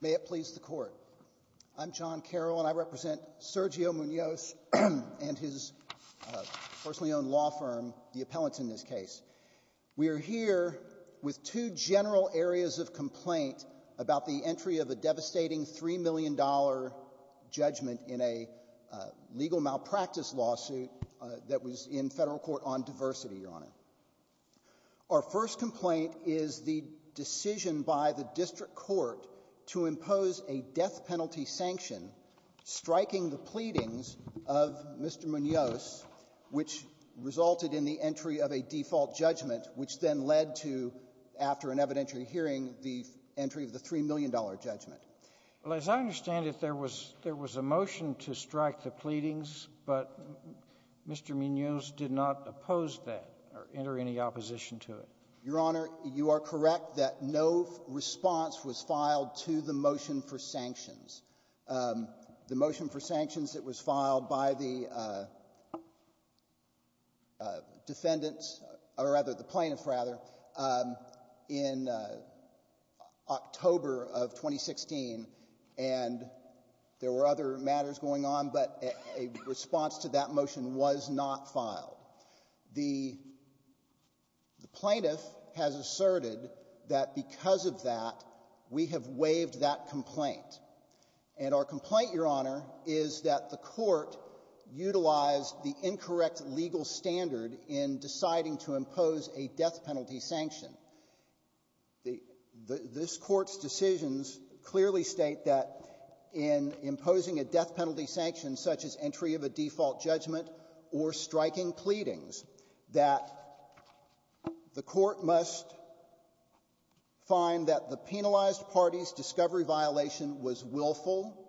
May it please the Court. I'm John Carroll and I represent Sergio Munoz and his personally owned law firm, the Appellants in this case. We are here with two general areas of complaint about the entry of a devastating $3 million judgment in a legal malpractice lawsuit that was in federal court on diversity, Your Honor. Our first complaint is the decision by the district court to impose a death penalty sanction striking the pleadings of Mr. Munoz, which resulted in the entry of a default judgment, which then led to, after an evidentiary hearing, the entry of the $3 million judgment. Well, as I understand it, there was a motion to strike the pleadings, but Mr. Munoz did not oppose that or enter any opposition to it. Your Honor, you are correct that no response was filed to the motion for sanctions. The motion for sanctions, it was filed by the defendants, or rather the plaintiffs rather, in October of 2016, and there were other matters going on, but a response to that motion was not filed. The plaintiff has asserted that because of that, we have waived that complaint. And our complaint, Your Honor, is that the court utilized the incorrect legal standard in deciding to impose a death penalty sanction. This court's decisions clearly state that in imposing a death penalty sanction such as entry of a default judgment or striking pleadings, that the court must find that the penalized party's discovery violation was willful,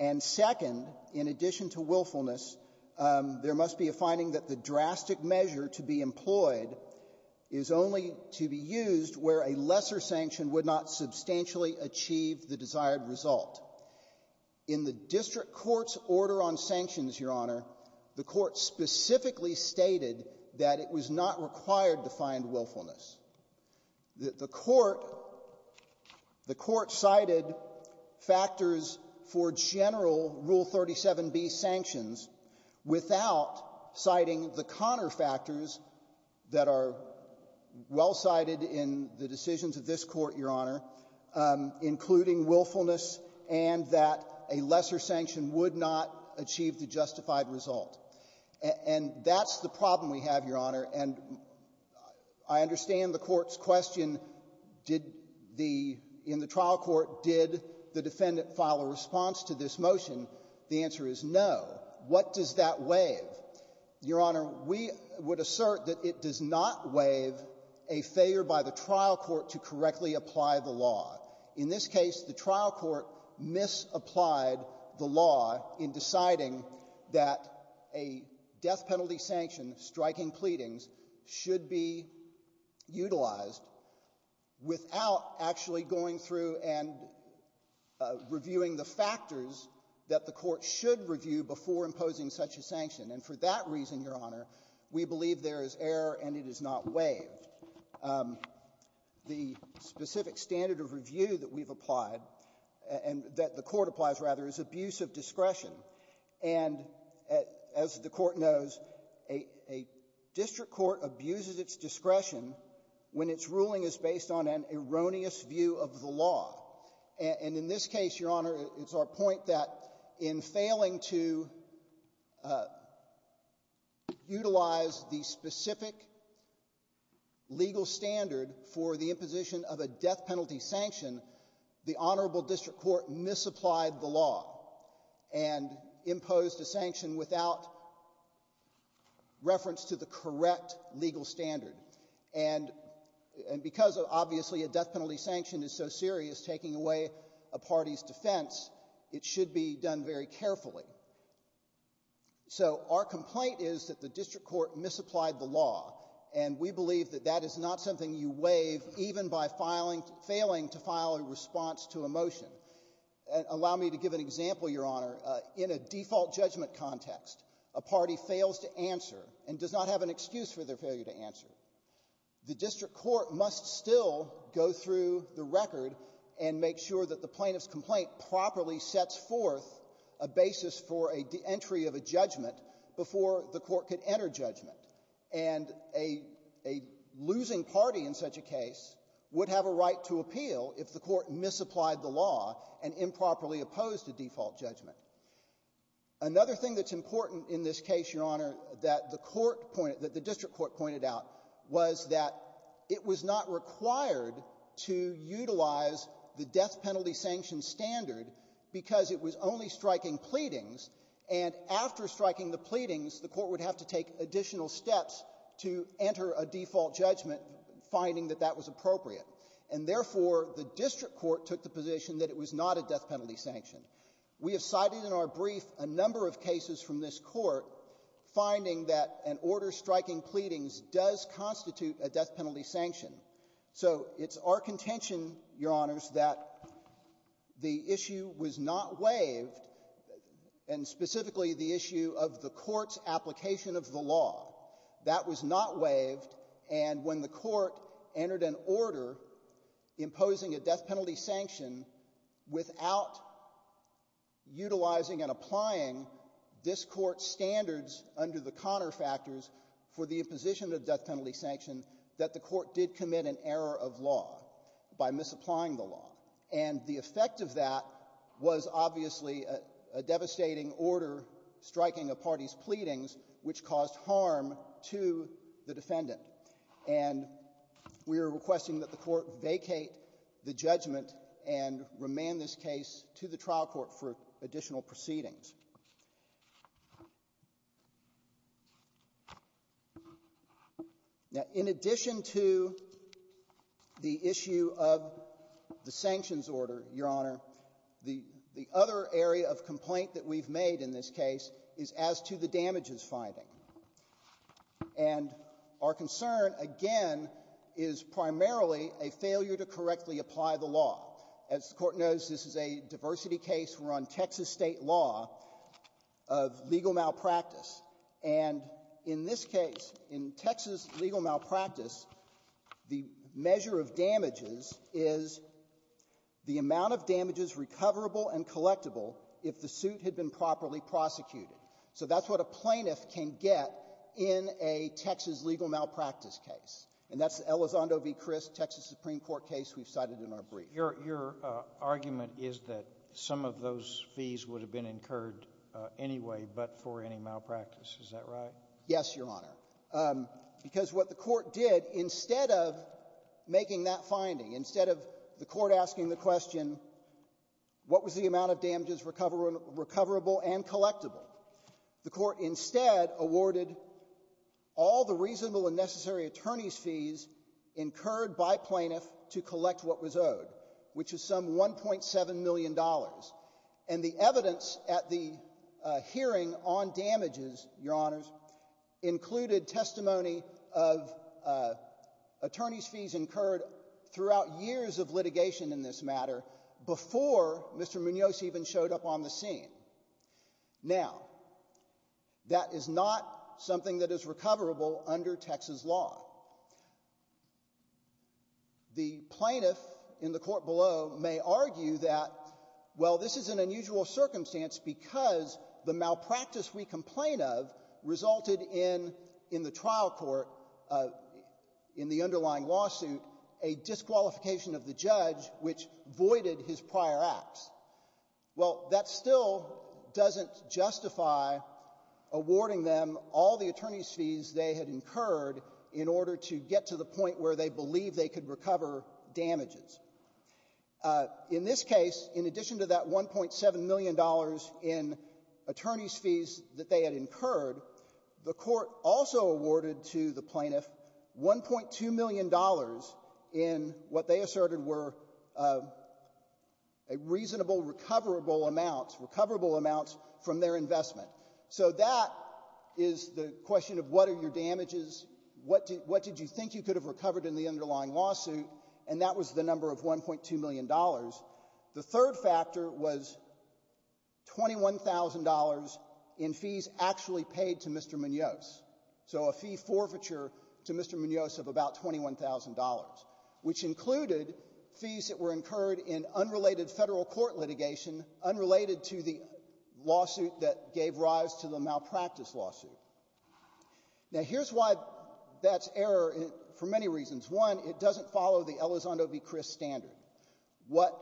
and second, in addition to willfulness, there must be a finding that the drastic measure to be employed is only to be used where a lesser sanction would not substantially achieve the desired on sanctions, Your Honor, the court specifically stated that it was not required to find willfulness. The court cited factors for general Rule 37B sanctions without citing the Connor factors that are well cited in the decisions of this court, Your Honor, including willfulness and that a lesser sanction would not achieve the justified result. And that's the problem we have, Your Honor, and I understand the court's question, did the — in the trial court, did the defendant file a response to this motion? The answer is no. What does that waive? Your Honor, we would assert that it does not waive a failure by the trial court to correctly apply the law. In this case, the trial court misapplied the law in deciding that a death penalty sanction, striking pleadings, should be utilized without actually going through and reviewing the factors that the court should review before imposing such a sanction. And for that reason, Your Honor, we believe there is error and it is not waived. The specific standard of review that we've applied, and that the court applies, rather, is abuse of discretion. And as the Court knows, a district court abuses its discretion when its ruling is based on an erroneous view of the law. And in this case, Your Honor, it's our point that in failing to utilize the specific legal standard for the imposition of a death penalty sanction, the honorable district court misapplied the law and imposed a sanction without reference to the correct legal standard. And because, obviously, a death penalty sanction is so serious, taking away a party's defense, it should be done very carefully. So, our complaint is that the district court misapplied the law, and we believe that that is not something you waive even by failing to file a response to a motion. Allow me to give an example, Your Honor. In a default judgment context, a party fails to answer and does not have an excuse for their failure to answer. The district court must still go through the record and make sure that the plaintiff's brought forth a basis for a de-entry of a judgment before the court could enter judgment. And a losing party in such a case would have a right to appeal if the court misapplied the law and improperly opposed a default judgment. Another thing that's important in this case, Your Honor, that the court pointed — that the district court pointed out was that it was not required to utilize the death penalty sanction standard because it was only striking pleadings, and after striking the pleadings, the court would have to take additional steps to enter a default judgment, finding that that was appropriate. And therefore, the district court took the position that it was not a death penalty sanction. We have cited in our brief a number of cases from this Court finding that an order striking pleadings does constitute a death penalty sanction. So it's our contention, Your Honors, that the issue was not waived, and specifically the issue of the court's application of the law. That was not waived, and when the court entered an order imposing a death penalty sanction without utilizing and applying this Court's standards under the Connor factors for the defendant to commit an error of law by misapplying the law. And the effect of that was obviously a devastating order striking a party's pleadings which caused harm to the defendant. And we are requesting that the court vacate the judgment and remand this case to the trial court for additional proceedings. Now, in addition to the issue of the sanctions order, Your Honor, the other area of complaint that we've made in this case is as to the damages finding. And our concern, again, is primarily a failure to correctly apply the law. As the Court knows, this is a diversity case. We're on Texas state law of legal malpractice. And in this case, in Texas legal malpractice, the measure of damages is the amount of damages recoverable and collectible if the suit had been properly prosecuted. So that's what a plaintiff can get in a Texas legal malpractice case. And that's Elizondo v. Chris, Texas Supreme Court case we've cited in our brief. Your argument is that some of those fees would have been incurred anyway but for any malpractice. Is that right? Yes, Your Honor. Because what the court did, instead of making that finding, instead of the court asking the question, what was the amount of damages recoverable and collectible? The court instead awarded all the reasonable and necessary attorney's fees incurred by plaintiff to collect what was owed, which is some $1.7 million. And the evidence at the hearing on damages, Your Honors, included testimony of attorney's fees incurred throughout years of litigation in this matter before Mr. Munoz even showed up on the scene. Now, that is not something that is recoverable under Texas law. The plaintiff in the court below may argue that, well, this is an unusual circumstance because the malpractice we complain of resulted in, in the trial court, in the underlying lawsuit, a disqualification of the judge, which voided his prior acts. Well, that still doesn't justify awarding them all the attorney's fees they had incurred in order to get to the point where they believed they could recover damages. In this case, in addition to that $1.7 million in attorney's fees that they had incurred, the court also awarded to the plaintiff $1.2 million in what they asserted were reasonable, recoverable amounts, recoverable amounts from their investment. So that is the question of what are your damages, what did you think you could have recovered in the underlying lawsuit, and that was the number of $1.2 million. The third factor was $21,000 in fees actually paid to Mr. Munoz, so a fee forfeiture to Mr. Munoz of about $21,000, which included fees that were incurred in unrelated federal court litigation, unrelated to the lawsuit that gave rise to the malpractice lawsuit. Now, here's why that's error for many reasons. One, it doesn't follow the Elizondo v. Chris standard, what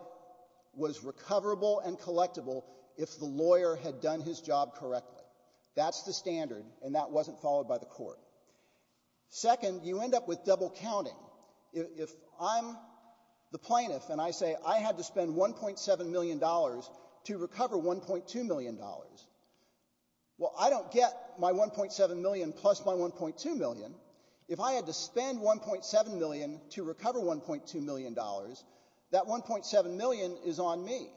was recoverable and collectible if the lawyer had done his job correctly. That's the standard, and that wasn't followed by the court. Second, you end up with double counting. If I'm the plaintiff and I say I had to spend $1.7 million to recover $1.2 million, well, I don't get my $1.7 million plus my $1.2 million. If I had to spend $1.7 million to recover $1.2 million, that $1.7 million is on me.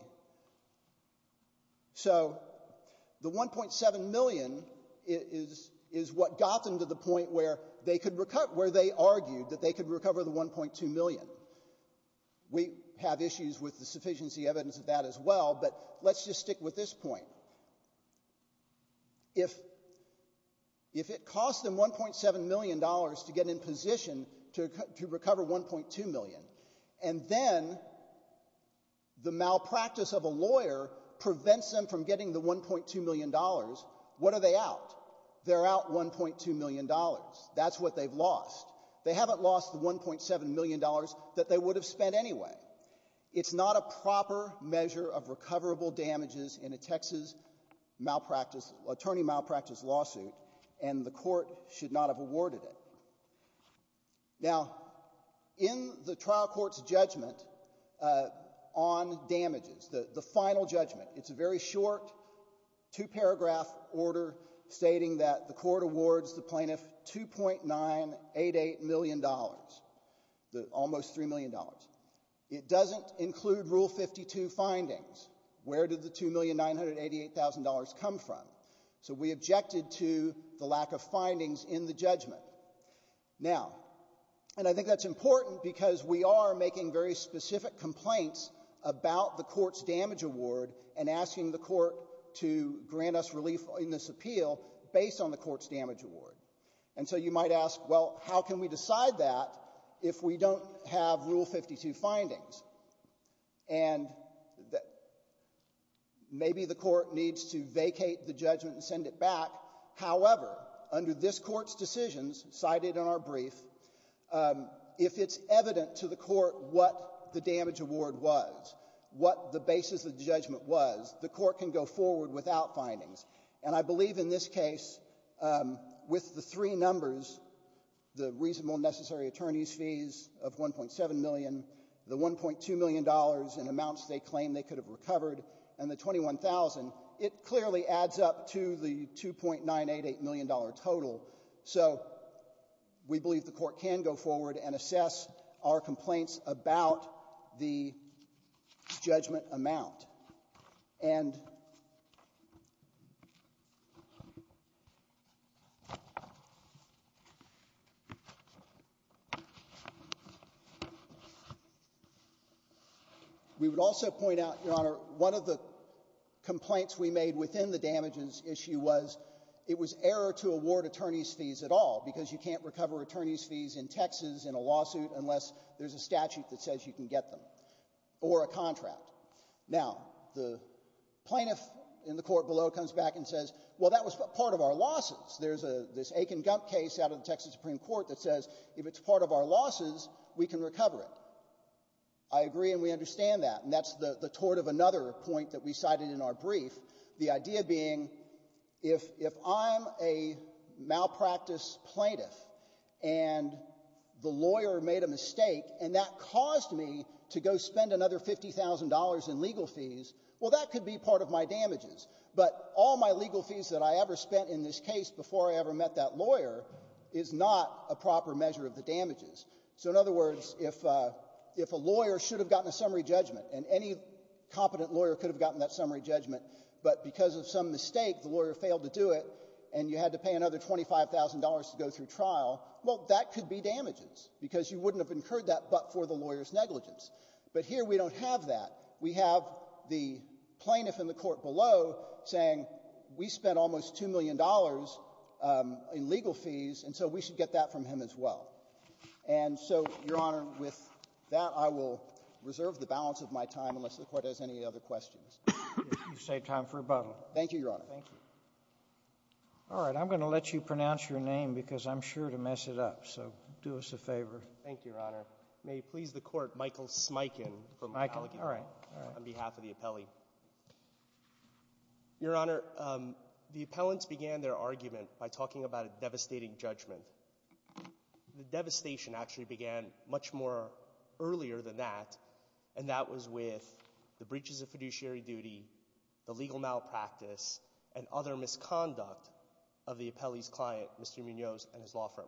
So the $1.7 million is what got them to the point where they argued that they could recover the $1.2 million. We have issues with the sufficiency evidence of that as well, but let's just stick with this point. Now, if it cost them $1.7 million to get in position to recover $1.2 million, and then the malpractice of a lawyer prevents them from getting the $1.2 million, what are they out? They're out $1.2 million. That's what they've lost. They haven't lost the $1.7 million that they would have spent anyway. It's not a proper measure of recoverable damages in a Texas malpractice, attorney malpractice lawsuit, and the court should not have awarded it. Now, in the trial court's judgment on damages, the final judgment, it's a very short two-paragraph order stating that the court awards the plaintiff $2.988 million, almost $3 million. It doesn't include Rule 52 findings. Where did the $2,988,000 come from? So we objected to the lack of findings in the judgment. Now, and I think that's important because we are making very specific complaints about the court's damage award and asking the court to grant us relief in this appeal based on the court's damage award. And so you might ask, well, how can we decide that if we don't have Rule 52 findings? And maybe the court needs to vacate the judgment and send it back. However, under this court's decisions, cited in our brief, if it's evident to the court what the damage award was, what the basis of the judgment was, the court can go forward without findings. And I believe in this case, with the three numbers, the reasonable necessary attorney's fees of $1.7 million, the $1.2 million in amounts they claim they could have recovered, and the $21,000, it clearly adds up to the $2.988 million total. So we believe the court can go forward and assess our complaints about the judgment amount. And we would also point out, Your Honor, one of the complaints we made within the damages issue was it was error to award attorney's fees at all because you can't recover attorney's fees in Texas in a lawsuit unless there's a statute that says you can get them or a contract. Now, the plaintiff in the court below comes back and says, well, that was part of our losses. There's this Aiken-Gump case out of the Texas Supreme Court that says if it's part of our losses, we can recover it. I agree and we understand that, and that's the tort of another point that we cited in our brief, the idea being if I'm a malpractice plaintiff and the lawyer made a mistake and that caused me to go spend another $50,000 in legal fees, well, that could be part of my damages, but all my legal fees that I ever spent in this case before I ever met that lawyer is not a proper measure of the damages. So in other words, if a lawyer should have gotten a summary judgment, and any competent lawyer could have gotten that summary judgment, but because of some mistake, the lawyer failed to do it and you had to pay another $25,000 to go through trial, well, that could be damages, because you wouldn't have incurred that but for the lawyer's negligence. But here we don't have that. We have the plaintiff in the court below saying we spent almost $2 million in legal fees, and so we should get that from him as well. And so, Your Honor, with that, I will reserve the balance of my time unless the Court has any other questions. You've saved time for rebuttal. Thank you, Your Honor. Thank you. All right. I'm going to let you pronounce your name, because I'm sure to mess it up, so do us a favor. Thank you, Your Honor. May it please the Court, Michael Smikin from Allegheny, on behalf of the appellee. Your Honor, the appellants began their argument by talking about a devastating judgment. The devastation actually began much more earlier than that, and that was with the appeal of the appellee's client, Mr. Munoz, and his law firm.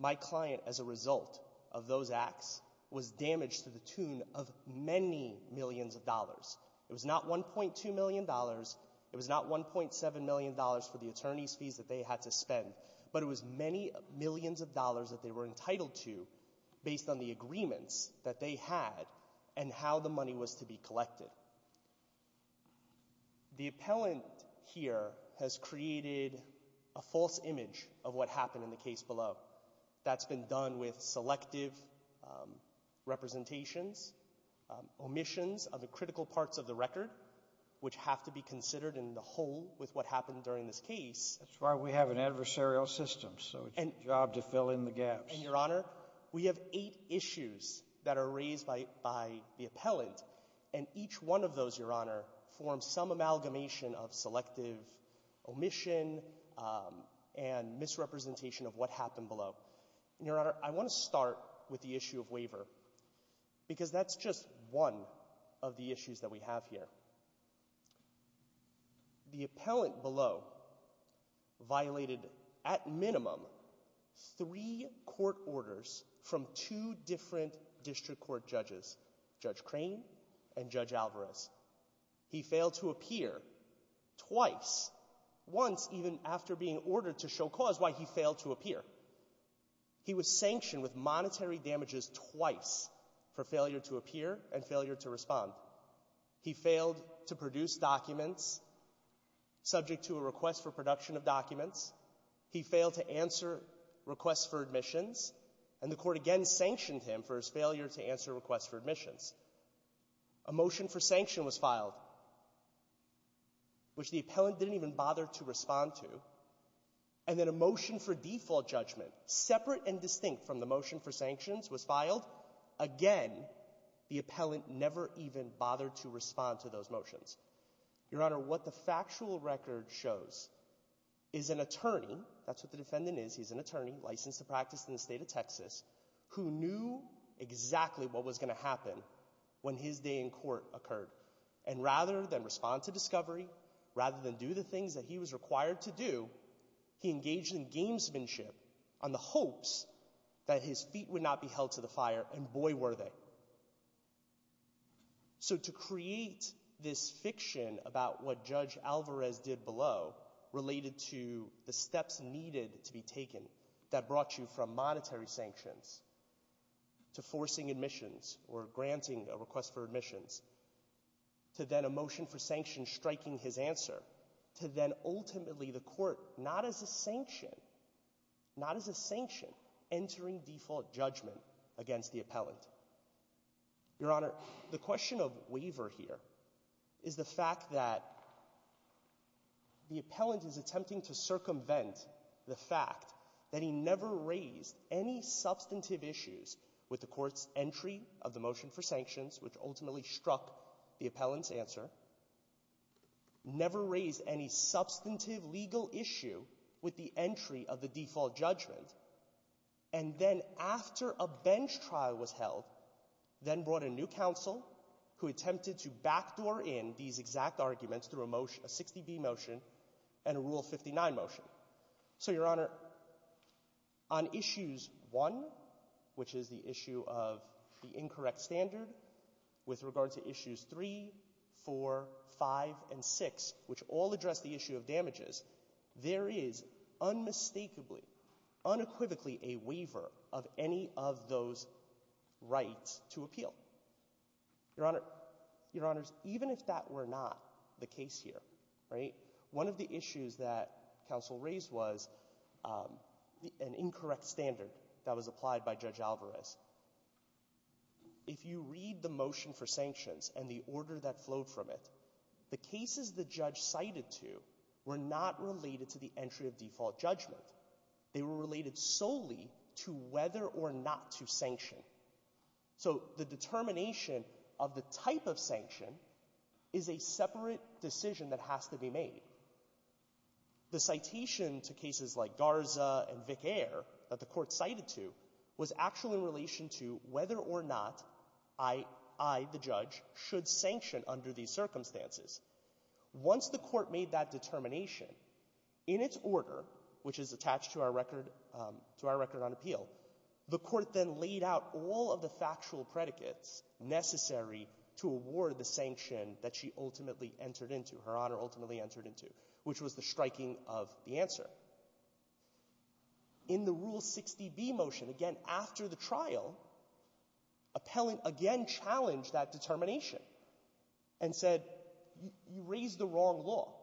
My client, as a result of those acts, was damaged to the tune of many millions of dollars. It was not $1.2 million, it was not $1.7 million for the attorney's fees that they had to spend, but it was many millions of dollars that they were entitled to based on the agreements that they had and how the money was to be collected. The appellant here has created a false image of what happened in the case below. That's been done with selective representations, omissions of the critical parts of the record, which have to be considered in the whole with what happened during this case. That's why we have an adversarial system, so it's your job to fill in the gaps. Your Honor, we have eight issues that are raised by the appellant, and each one of those, Your Honor, forms some amalgamation of selective omission and misrepresentation of what happened below. Your Honor, I want to start with the issue of waiver, because that's just one of the issues that we have here. The appellant below violated, at minimum, three court orders from two different district court judges, Judge Crane and Judge Alvarez. He failed to appear twice, once even after being ordered to show cause why he failed to appear. He was sanctioned with monetary damages twice for failure to appear and failure to respond. He failed to produce documents subject to a request for production of documents. He failed to answer requests for admissions, and the court again sanctioned him for his failure to answer requests for admissions. A motion for sanction was filed, which the appellant didn't even bother to respond to, and then a motion for default judgment, separate and distinct from the motion for sanctions, was filed. Again, the appellant never even bothered to respond to those motions. Your Honor, what the factual record shows is an attorney, that's what the defendant is, he's an attorney, licensed to practice in the state of Texas, who knew exactly what was going to happen when his day in court occurred. And rather than respond to discovery, rather than do the things that he was required to do, he engaged in gamesmanship on the hopes that his feet would not be held to the fire, and boy were they. So to create this fiction about what Judge Alvarez did below, related to the steps needed to be taken that brought you from monetary sanctions to forcing admissions or granting a request for admissions, to then a motion for sanctions striking his answer, to then ultimately the court, not as a sanction, not as a sanction, entering default judgment against the appellant. Your Honor, the question of waiver here is the fact that the appellant is attempting to circumvent the fact that he never raised any substantive issues with the court's entry of the motion for sanctions, which ultimately struck the entry of the default judgment, and then after a bench trial was held, then brought a new counsel who attempted to backdoor in these exact arguments through a 60B motion and a Rule 59 motion. So, Your Honor, on Issues 1, which is the issue of the incorrect standard, with regard to Issues 3, 4, 5, and 6, which all address the issue of damages, there is unmistakably, unequivocally a waiver of any of those rights to appeal. Your Honor, even if that were not the case here, one of the issues that counsel raised was an incorrect standard that was applied by Judge Alvarez. If you read the motion for sanctions and the order that flowed from it, the cases the judge cited to were not related to the entry of default judgment. They were related solely to whether or not to sanction. So the determination of the type of sanction is a separate decision that has to be made. The citation to cases like Garza and Vic Air that the court cited to was actually in relation to whether or not I, the judge, should sanction under these circumstances. Once the court made that determination, in its order, which is attached to our record on appeal, the court then laid out all of the factual predicates necessary to award the sanction that she ultimately entered into, her Honor ultimately entered into, which was the striking of the answer. In the Rule 60B motion, again, after the trial, appellant again challenged that determination and said, you raised the wrong law.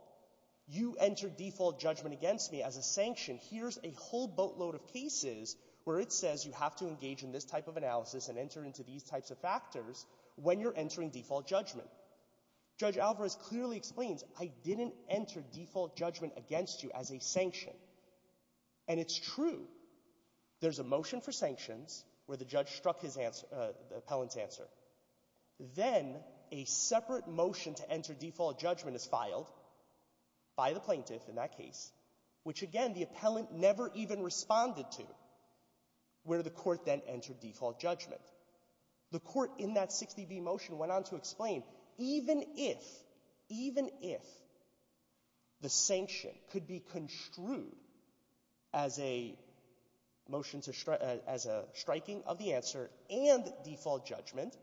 You entered default judgment against me as a sanction. Here's a whole boatload of cases where it says you have to engage in this type of analysis and enter into these types of factors when you're entering default judgment. Judge Alvarez clearly explains, I didn't enter default judgment against you as a sanction. And it's true. There's a motion for sanctions where the judge struck the appellant's answer. Then a separate motion to enter default judgment is filed by the plaintiff in that case, which, again, the appellant never even responded to, where the court then entered default judgment. The court in that 60B motion went on to explain, even if, even if the sanction could be construed as a motion to strike, as a striking of the answer and default judgment,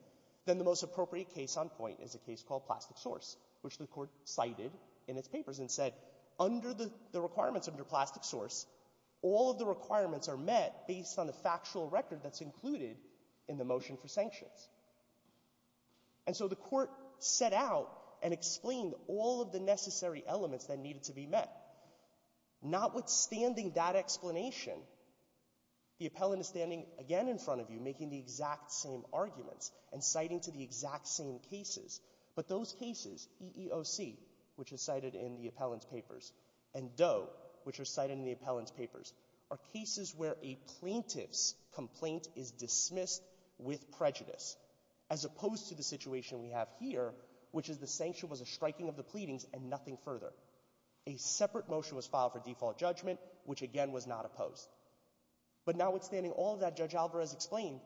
then the most appropriate case on point is a case called Plastic Source, which the court cited in its papers and said, under the requirements under Plastic Source, all of the requirements are met based on the factual record that's included in the motion for sanctions. And so the court set out and explained all of the necessary elements that needed to be met. Notwithstanding that explanation, the appellant is standing again in front of you making the exact same arguments and citing to the exact same cases. But those cases, EEOC, which is cited in the appellant's papers, and Doe, which are cited in the appellant's papers, are cases where a plaintiff's complaint is dismissed with prejudice, as opposed to the situation we have here, which is the sanction was a striking of the pleadings and nothing further. A separate motion was filed for default judgment, which, again, was not opposed. But notwithstanding all of that, Judge Alvarez explained,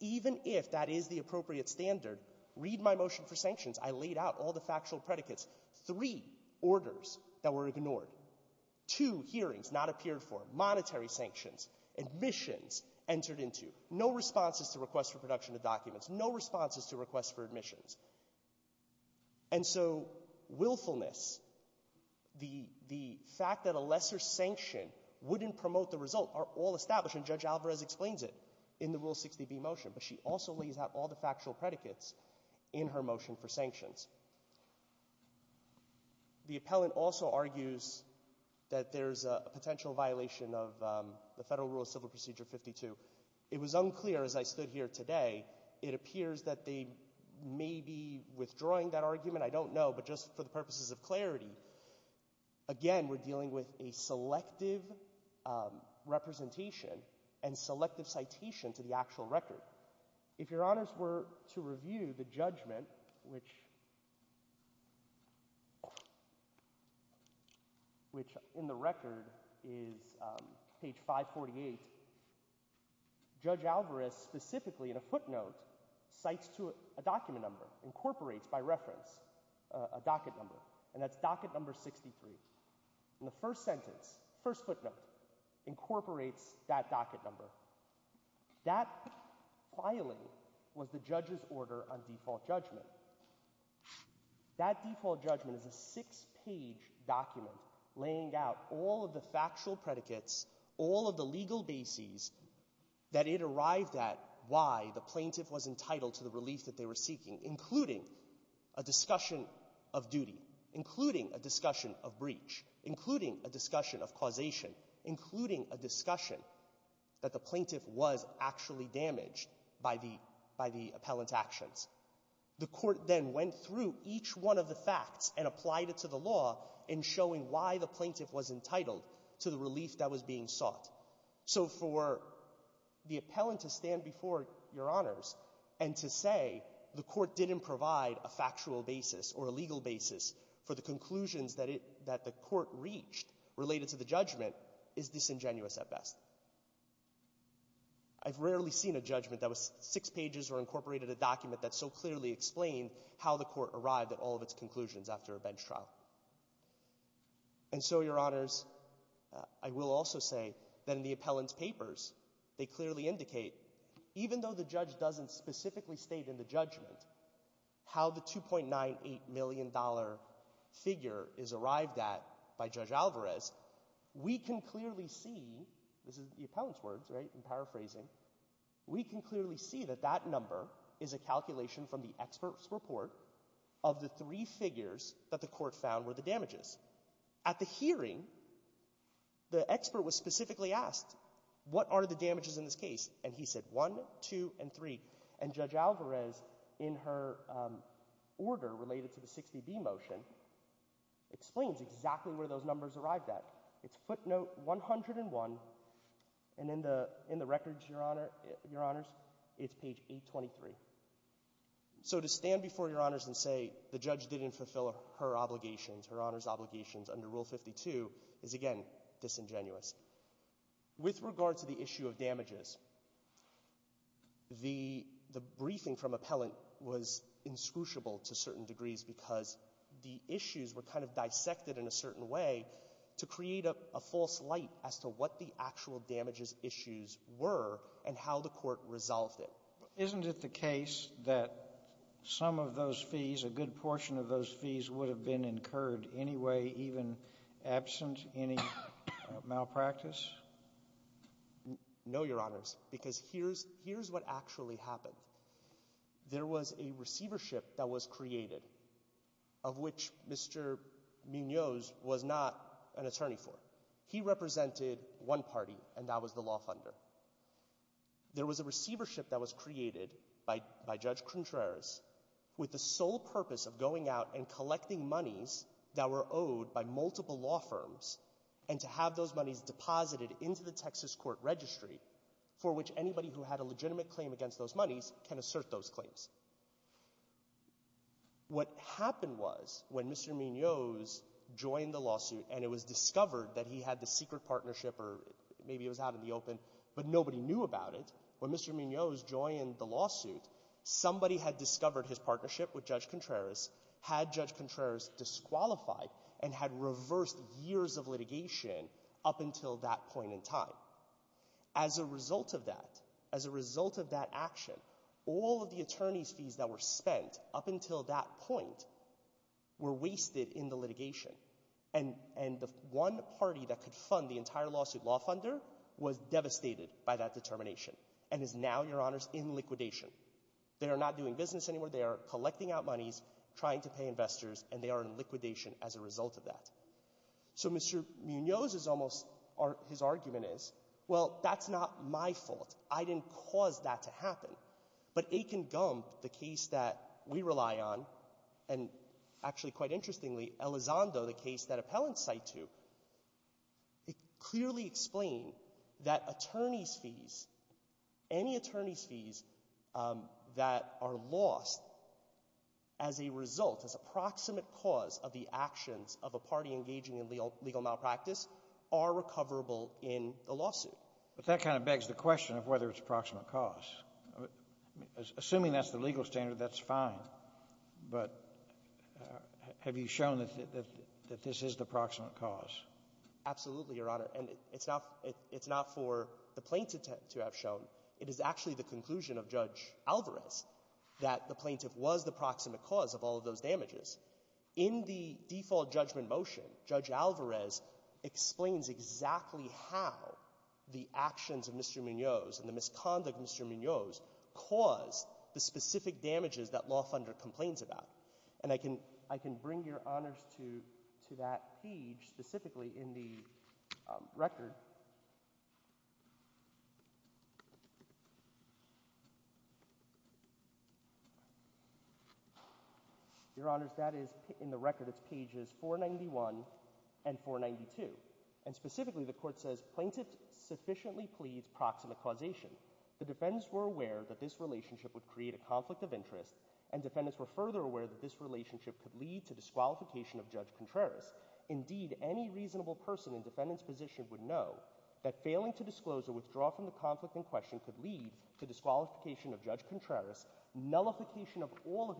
even if that is the appropriate standard, read my motion for sanctions, I laid out all the factual predicates, three orders that were ignored, two hearings not appeared for, monetary sanctions, admissions entered into, no responses to requests for production of documents, no responses to requests for admissions. And so willfulness, the fact that a lesser sanction wouldn't promote the result, are all established, and Judge Alvarez explains it in the Rule 60b motion. But she also lays out all the factual predicates in her motion for sanctions. The appellant also argues that there's a potential violation of the Federal Rule of Civil Procedure 52. It was unclear as I stood here today. It appears that they may be withdrawing that argument. I don't know. But just for the purposes of clarity, again, we're dealing with a selective representation and selective citation to the actual record. If Your Honors were to review the judgment, which in the record is page 548, Judge Alvarez specifically in a footnote cites a document number, incorporates by reference a docket number, and that's docket number 63. In the first sentence, first footnote, incorporates that docket number. That filing was the judge's order on default judgment. That default judgment is a six-page document laying out all of the factual predicates, all of the legal bases that it arrived at why the plaintiff was entitled to the relief that they were seeking, including a discussion of duty, including a discussion of breach, including a discussion of causation, including a discussion that the plaintiff was actually damaged by the appellant's actions. The court then went through each one of the facts and applied it to the law in showing why the plaintiff was entitled to the relief that was being sought. So for the appellant to stand before Your Honors and to say the court didn't provide a factual basis or a legal basis for the conclusions that the court reached related to the judgment is disingenuous at best. I've rarely seen a judgment that was six pages or incorporated a document that so clearly explained how the court arrived at all of its conclusions after a bench trial. And so, Your Honors, I will also say that in the appellant's papers, they clearly indicate even though the judge doesn't specifically state in the judgment how the $2.98 million figure is arrived at by Judge Alvarez, we can clearly see, this is the appellant's words, right, I'm paraphrasing, we can clearly see that that number is a calculation from the expert's report of the three figures that the court found were the damages. At the hearing, the expert was specifically asked, what are the damages in this case? And he said, one, two, and three. And Judge Alvarez, in her order related to the 60B motion, explains exactly where those numbers arrived at. It's footnote 101, and in the records, Your Honors, it's page 823. So to stand before Your Honors and say the judge didn't fulfill her obligations, her Honor's obligations under Rule 52, is, again, disingenuous. With regard to the issue of damages, the briefing from appellant was inscrutable to certain degrees because the issues were kind of dissected in a certain way to create a false light as to what the actual damages issues were and how the court resolved it. Isn't it the case that some of those fees, a good portion of those fees, would have been incurred anyway, even absent any malpractice? No, Your Honors, because here's what actually happened. There was a receivership that was created, of which Mr. Munoz was not an attorney for. He represented one party, and that was the law funder. There was a receivership that was created by Judge Contreras with the sole purpose of going out and collecting monies that were owed by multiple law firms and to have those monies deposited into the Texas court registry for which anybody who had a legitimate claim against those monies can assert those claims. What happened was when Mr. Munoz joined the lawsuit and it was discovered that he had the secret partnership, or maybe it was out in the open, but nobody knew about it. When Mr. Munoz joined the lawsuit, somebody had discovered his partnership with Judge Contreras, had Judge Contreras disqualified, and had reversed years of litigation up until that point in time. As a result of that, as a result of that action, all of the attorney's fees that were spent up until that point were wasted in the litigation. And the one party that could fund the entire lawsuit, law funder, was devastated by that determination and is now, Your Honors, in liquidation. They are not doing business anymore. They are collecting out monies, trying to pay investors, and they are in liquidation as a result of that. So Mr. Munoz's argument is, well, that's not my fault. I didn't cause that to happen. But Aiken Gump, the case that we rely on, and actually quite interestingly, Elizondo, the case that appellants cite to, it clearly explained that attorney's fees, any attorney's fees that are lost as a result, as a proximate cause of the actions of a party engaging in legal malpractice are recoverable in the lawsuit. But that kind of begs the question of whether it's a proximate cause. Assuming that's the legal standard, that's fine. But have you shown that this is the proximate cause? Absolutely, Your Honor. And it's not for the plaintiff to have shown. It is actually the conclusion of Judge Alvarez that the plaintiff was the proximate cause of all of those damages. In the default judgment motion, Judge Alvarez explains exactly how the actions of Mr. Munoz and the misconduct of Mr. Munoz caused the specific damages that law under complains about. And I can bring Your Honors to that page specifically in the record. Your Honors, that is in the record. It's pages 491 and 492. And specifically, the court says, plaintiff sufficiently pleads proximate causation. The defendants were aware that this relationship would create a conflict of interest and defendants were further aware that this relationship could lead to disqualification of Judge Contreras. Indeed, any reasonable person in defendant's position would know that failing to disclose or withdraw from the conflict in question could lead to disqualification of Judge Contreras, nullification of all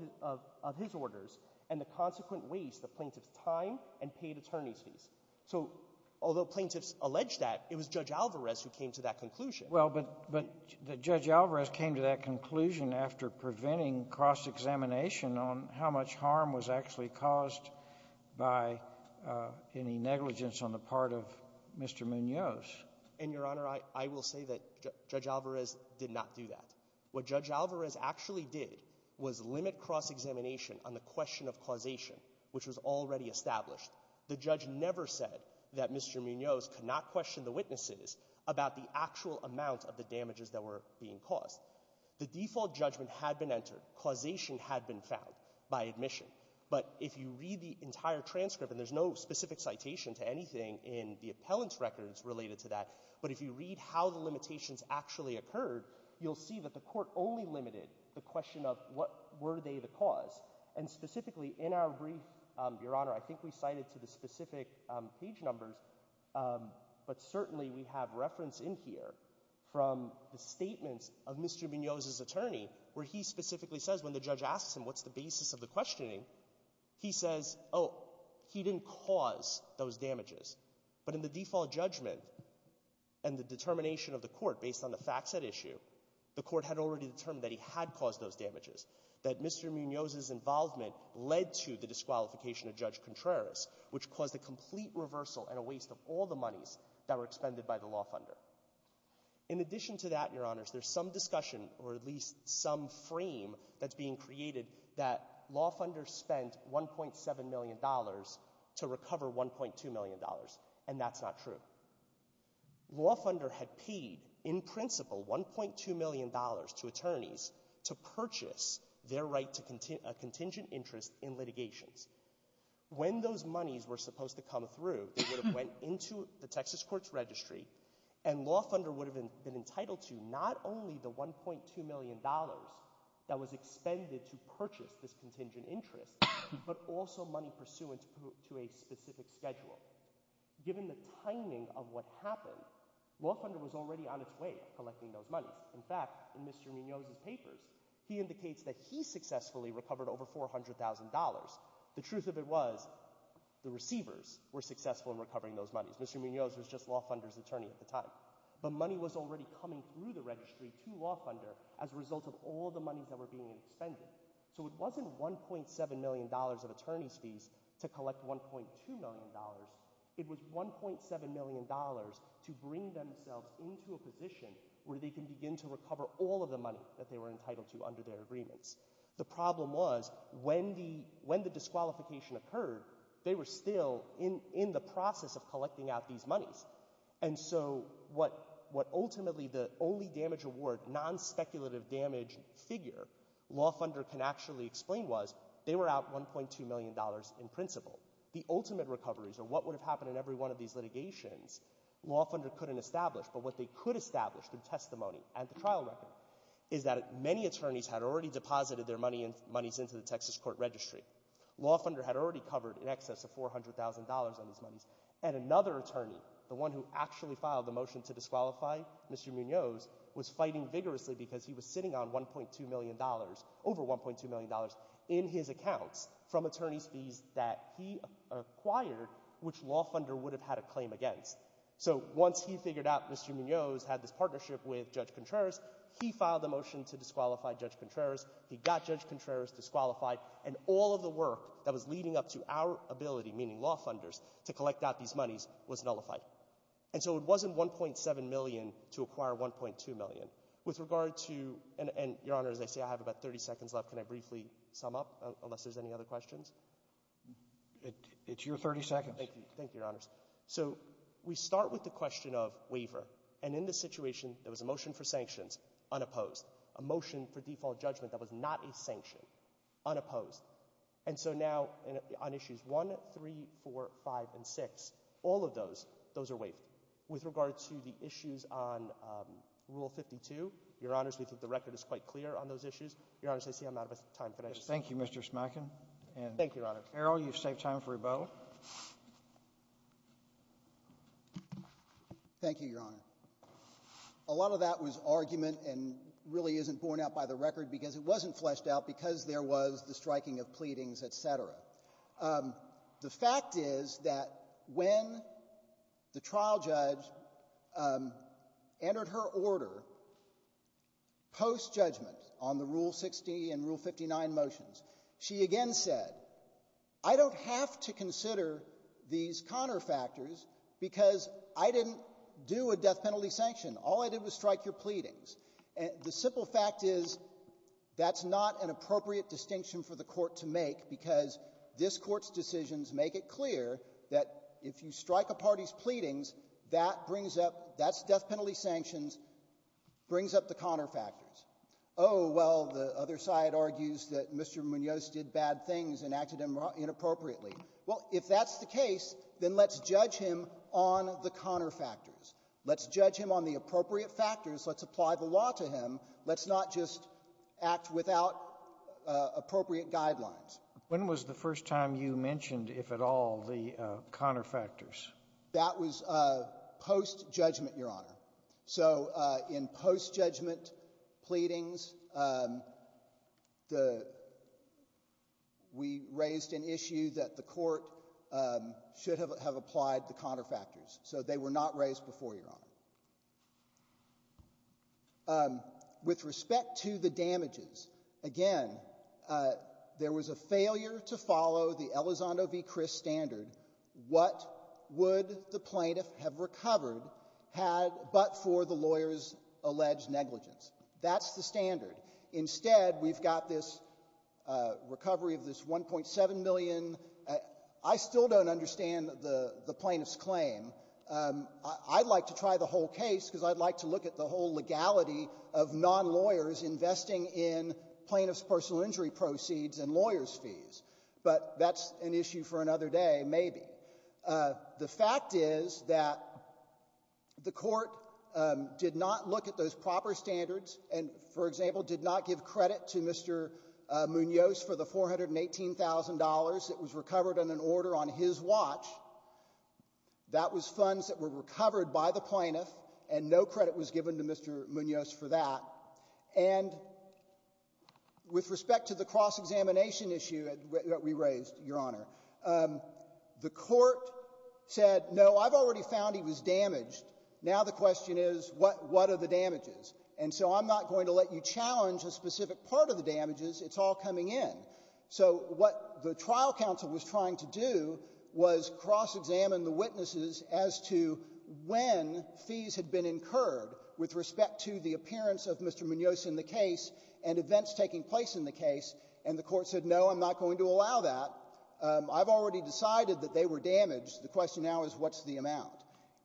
of his orders, and the consequent waste of plaintiff's time and paid attorney's fees. So although plaintiffs allege that, it was Judge Alvarez who came to that conclusion. Well, but Judge Alvarez came to that conclusion after preventing cross-examination on how much harm was actually caused by any negligence on the part of Mr. Munoz. And, Your Honor, I will say that Judge Alvarez did not do that. What Judge Alvarez actually did was limit cross-examination on the question of causation, which was already established. The judge never said that Mr. Munoz could not question the witnesses about the actual amount of the damages that were being caused. The default judgment had been entered. Causation had been found by admission. But if you read the entire transcript, and there's no specific citation to anything in the appellant's records related to that, but if you read how the limitations actually occurred, you'll see that the court only limited the question of what were they the cause. And specifically in our brief, Your Honor, I think we cited to the specific page numbers, but certainly we have reference in here from the statements of Mr. Munoz's attorney where he specifically says when the judge asks him what's the basis of the questioning, he says, oh, he didn't cause those damages. But in the default judgment and the determination of the court based on the facts at issue, the court had already determined that he had caused those damages, that Mr. Munoz's involvement led to the disqualification of Judge Contreras, which caused a complete reversal and a waste of all the monies that were expended by the law funder. In addition to that, Your Honors, there's some discussion, or at least some frame that's being created that law funders spent $1.7 million to recover $1.2 million, and that's not true. Law funder had paid, in principle, $1.2 million to attorneys to purchase their right to a contingent interest in litigations. When those monies were supposed to come through, they would have went into the Texas courts registry and law funder would have been entitled to not only the $1.2 million that was expended to purchase this contingent interest, but also money pursuant to a specific schedule. Given the timing of what happened, law funder was already on its way collecting those monies. In fact, in Mr. Munoz's papers, he indicates that he successfully recovered over $400,000 The truth of it was, the receivers were successful in recovering those monies. Mr. Munoz was just law funder's attorney at the time. But money was already coming through the registry to law funder as a result of all the monies that were being expended. So it wasn't $1.7 million of attorney's fees to collect $1.2 million. It was $1.7 million to bring themselves into a position where they can begin to recover all of the money that they were entitled to under their agreements. The problem was, when the disqualification occurred, they were still in the process of collecting out these monies. And so what ultimately the only damage award, non-speculative damage figure, law funder can actually explain was, they were out $1.2 million in principle. The ultimate recoveries, or what would have happened in every one of these litigations, law funder couldn't establish. But what they could establish through testimony and the trial record is that many attorneys had already deposited their monies into the Texas court registry. Law funder had already covered in excess of $400,000 on his monies. And another attorney, the one who actually filed the motion to disqualify Mr. Munoz, was fighting vigorously because he was sitting on $1.2 million, over $1.2 million, in his accounts from attorney's fees that he acquired, which law funder would have had a claim against. So once he figured out Mr. Munoz had this partnership with Judge Contreras, he filed the motion to disqualify Judge Contreras. He got Judge Contreras disqualified. And all of the work that was leading up to our ability, meaning law funders, to collect out these monies was nullified. And so it wasn't $1.7 million to acquire $1.2 million. With regard to—and, Your Honor, as I say, I have about 30 seconds left. Can I briefly sum up, unless there's any other questions? It's your 30 seconds. Thank you, Your Honors. So we start with the question of waiver. And in this situation, there was a motion for sanctions, unopposed, a motion for default judgment that was not a sanction, unopposed. And so now on Issues 1, 3, 4, 5, and 6, all of those, those are waived. With regard to the issues on Rule 52, Your Honors, we think the record is quite clear on those issues. Your Honors, I see I'm out of time. Thank you, Your Honor. Mr. Carroll, you've saved time for rebuttal. Thank you, Your Honor. A lot of that was argument and really isn't borne out by the record because it wasn't fleshed out because there was the striking of pleadings, et cetera. The fact is that when the trial judge entered her order post-judgment on the Rule 60 and Rule 59 motions, she again said, I don't have to consider these counterfactors because I didn't do a death penalty sanction. All I did was strike your pleadings. The simple fact is that's not an appropriate distinction for the court to make because this court's decisions make it clear that if you strike a party's pleadings, that brings up, that's death penalty sanctions, brings up the counterfactors. Oh, well, the other side argues that Mr. Munoz did bad things and acted inappropriately. Well, if that's the case, then let's judge him on the counterfactors. Let's judge him on the appropriate factors. Let's apply the law to him. Let's not just act without appropriate guidelines. When was the first time you mentioned, if at all, the counterfactors? That was post-judgment, Your Honor. So in post-judgment pleadings, we raised an issue that the court should have applied the counterfactors. So they were not raised before, Your Honor. With respect to the damages, again, there was a failure to follow the Elizondo v. Chris standard. What would the plaintiff have recovered but for the lawyer's alleged negligence? That's the standard. Instead, we've got this recovery of this $1.7 million. I still don't understand the plaintiff's claim. I'd like to try the whole case because I'd like to look at the whole legality of non-lawyers But that's an issue for another day, maybe. The fact is that the court did not look at those proper standards and, for example, did not give credit to Mr. Munoz for the $418,000 that was recovered in an order on his watch. That was funds that were recovered by the plaintiff, and no credit was given to Mr. Munoz for that. And with respect to the cross-examination issue that we raised, Your Honor, the court said, no, I've already found he was damaged. Now the question is, what are the damages? And so I'm not going to let you challenge a specific part of the damages. It's all coming in. So what the trial counsel was trying to do was cross-examine the witnesses as to when fees had been incurred with respect to the appearance of Mr. Munoz in the case and events taking place in the case, and the court said, no, I'm not going to allow that. I've already decided that they were damaged. The question now is, what's the amount?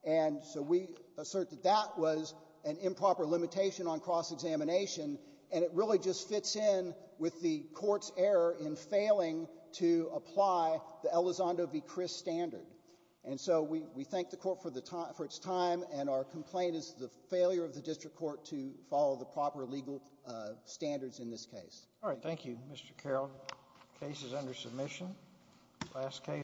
And so we assert that that was an improper limitation on cross-examination, and it really just fits in with the Court's error in failing to apply the Elizondo v. Chris standard. And so we thank the court for its time, and our complaint is the failure of the district court to follow the proper legal standards in this case. All right, thank you, Mr. Carroll. Case is under submission. Last case.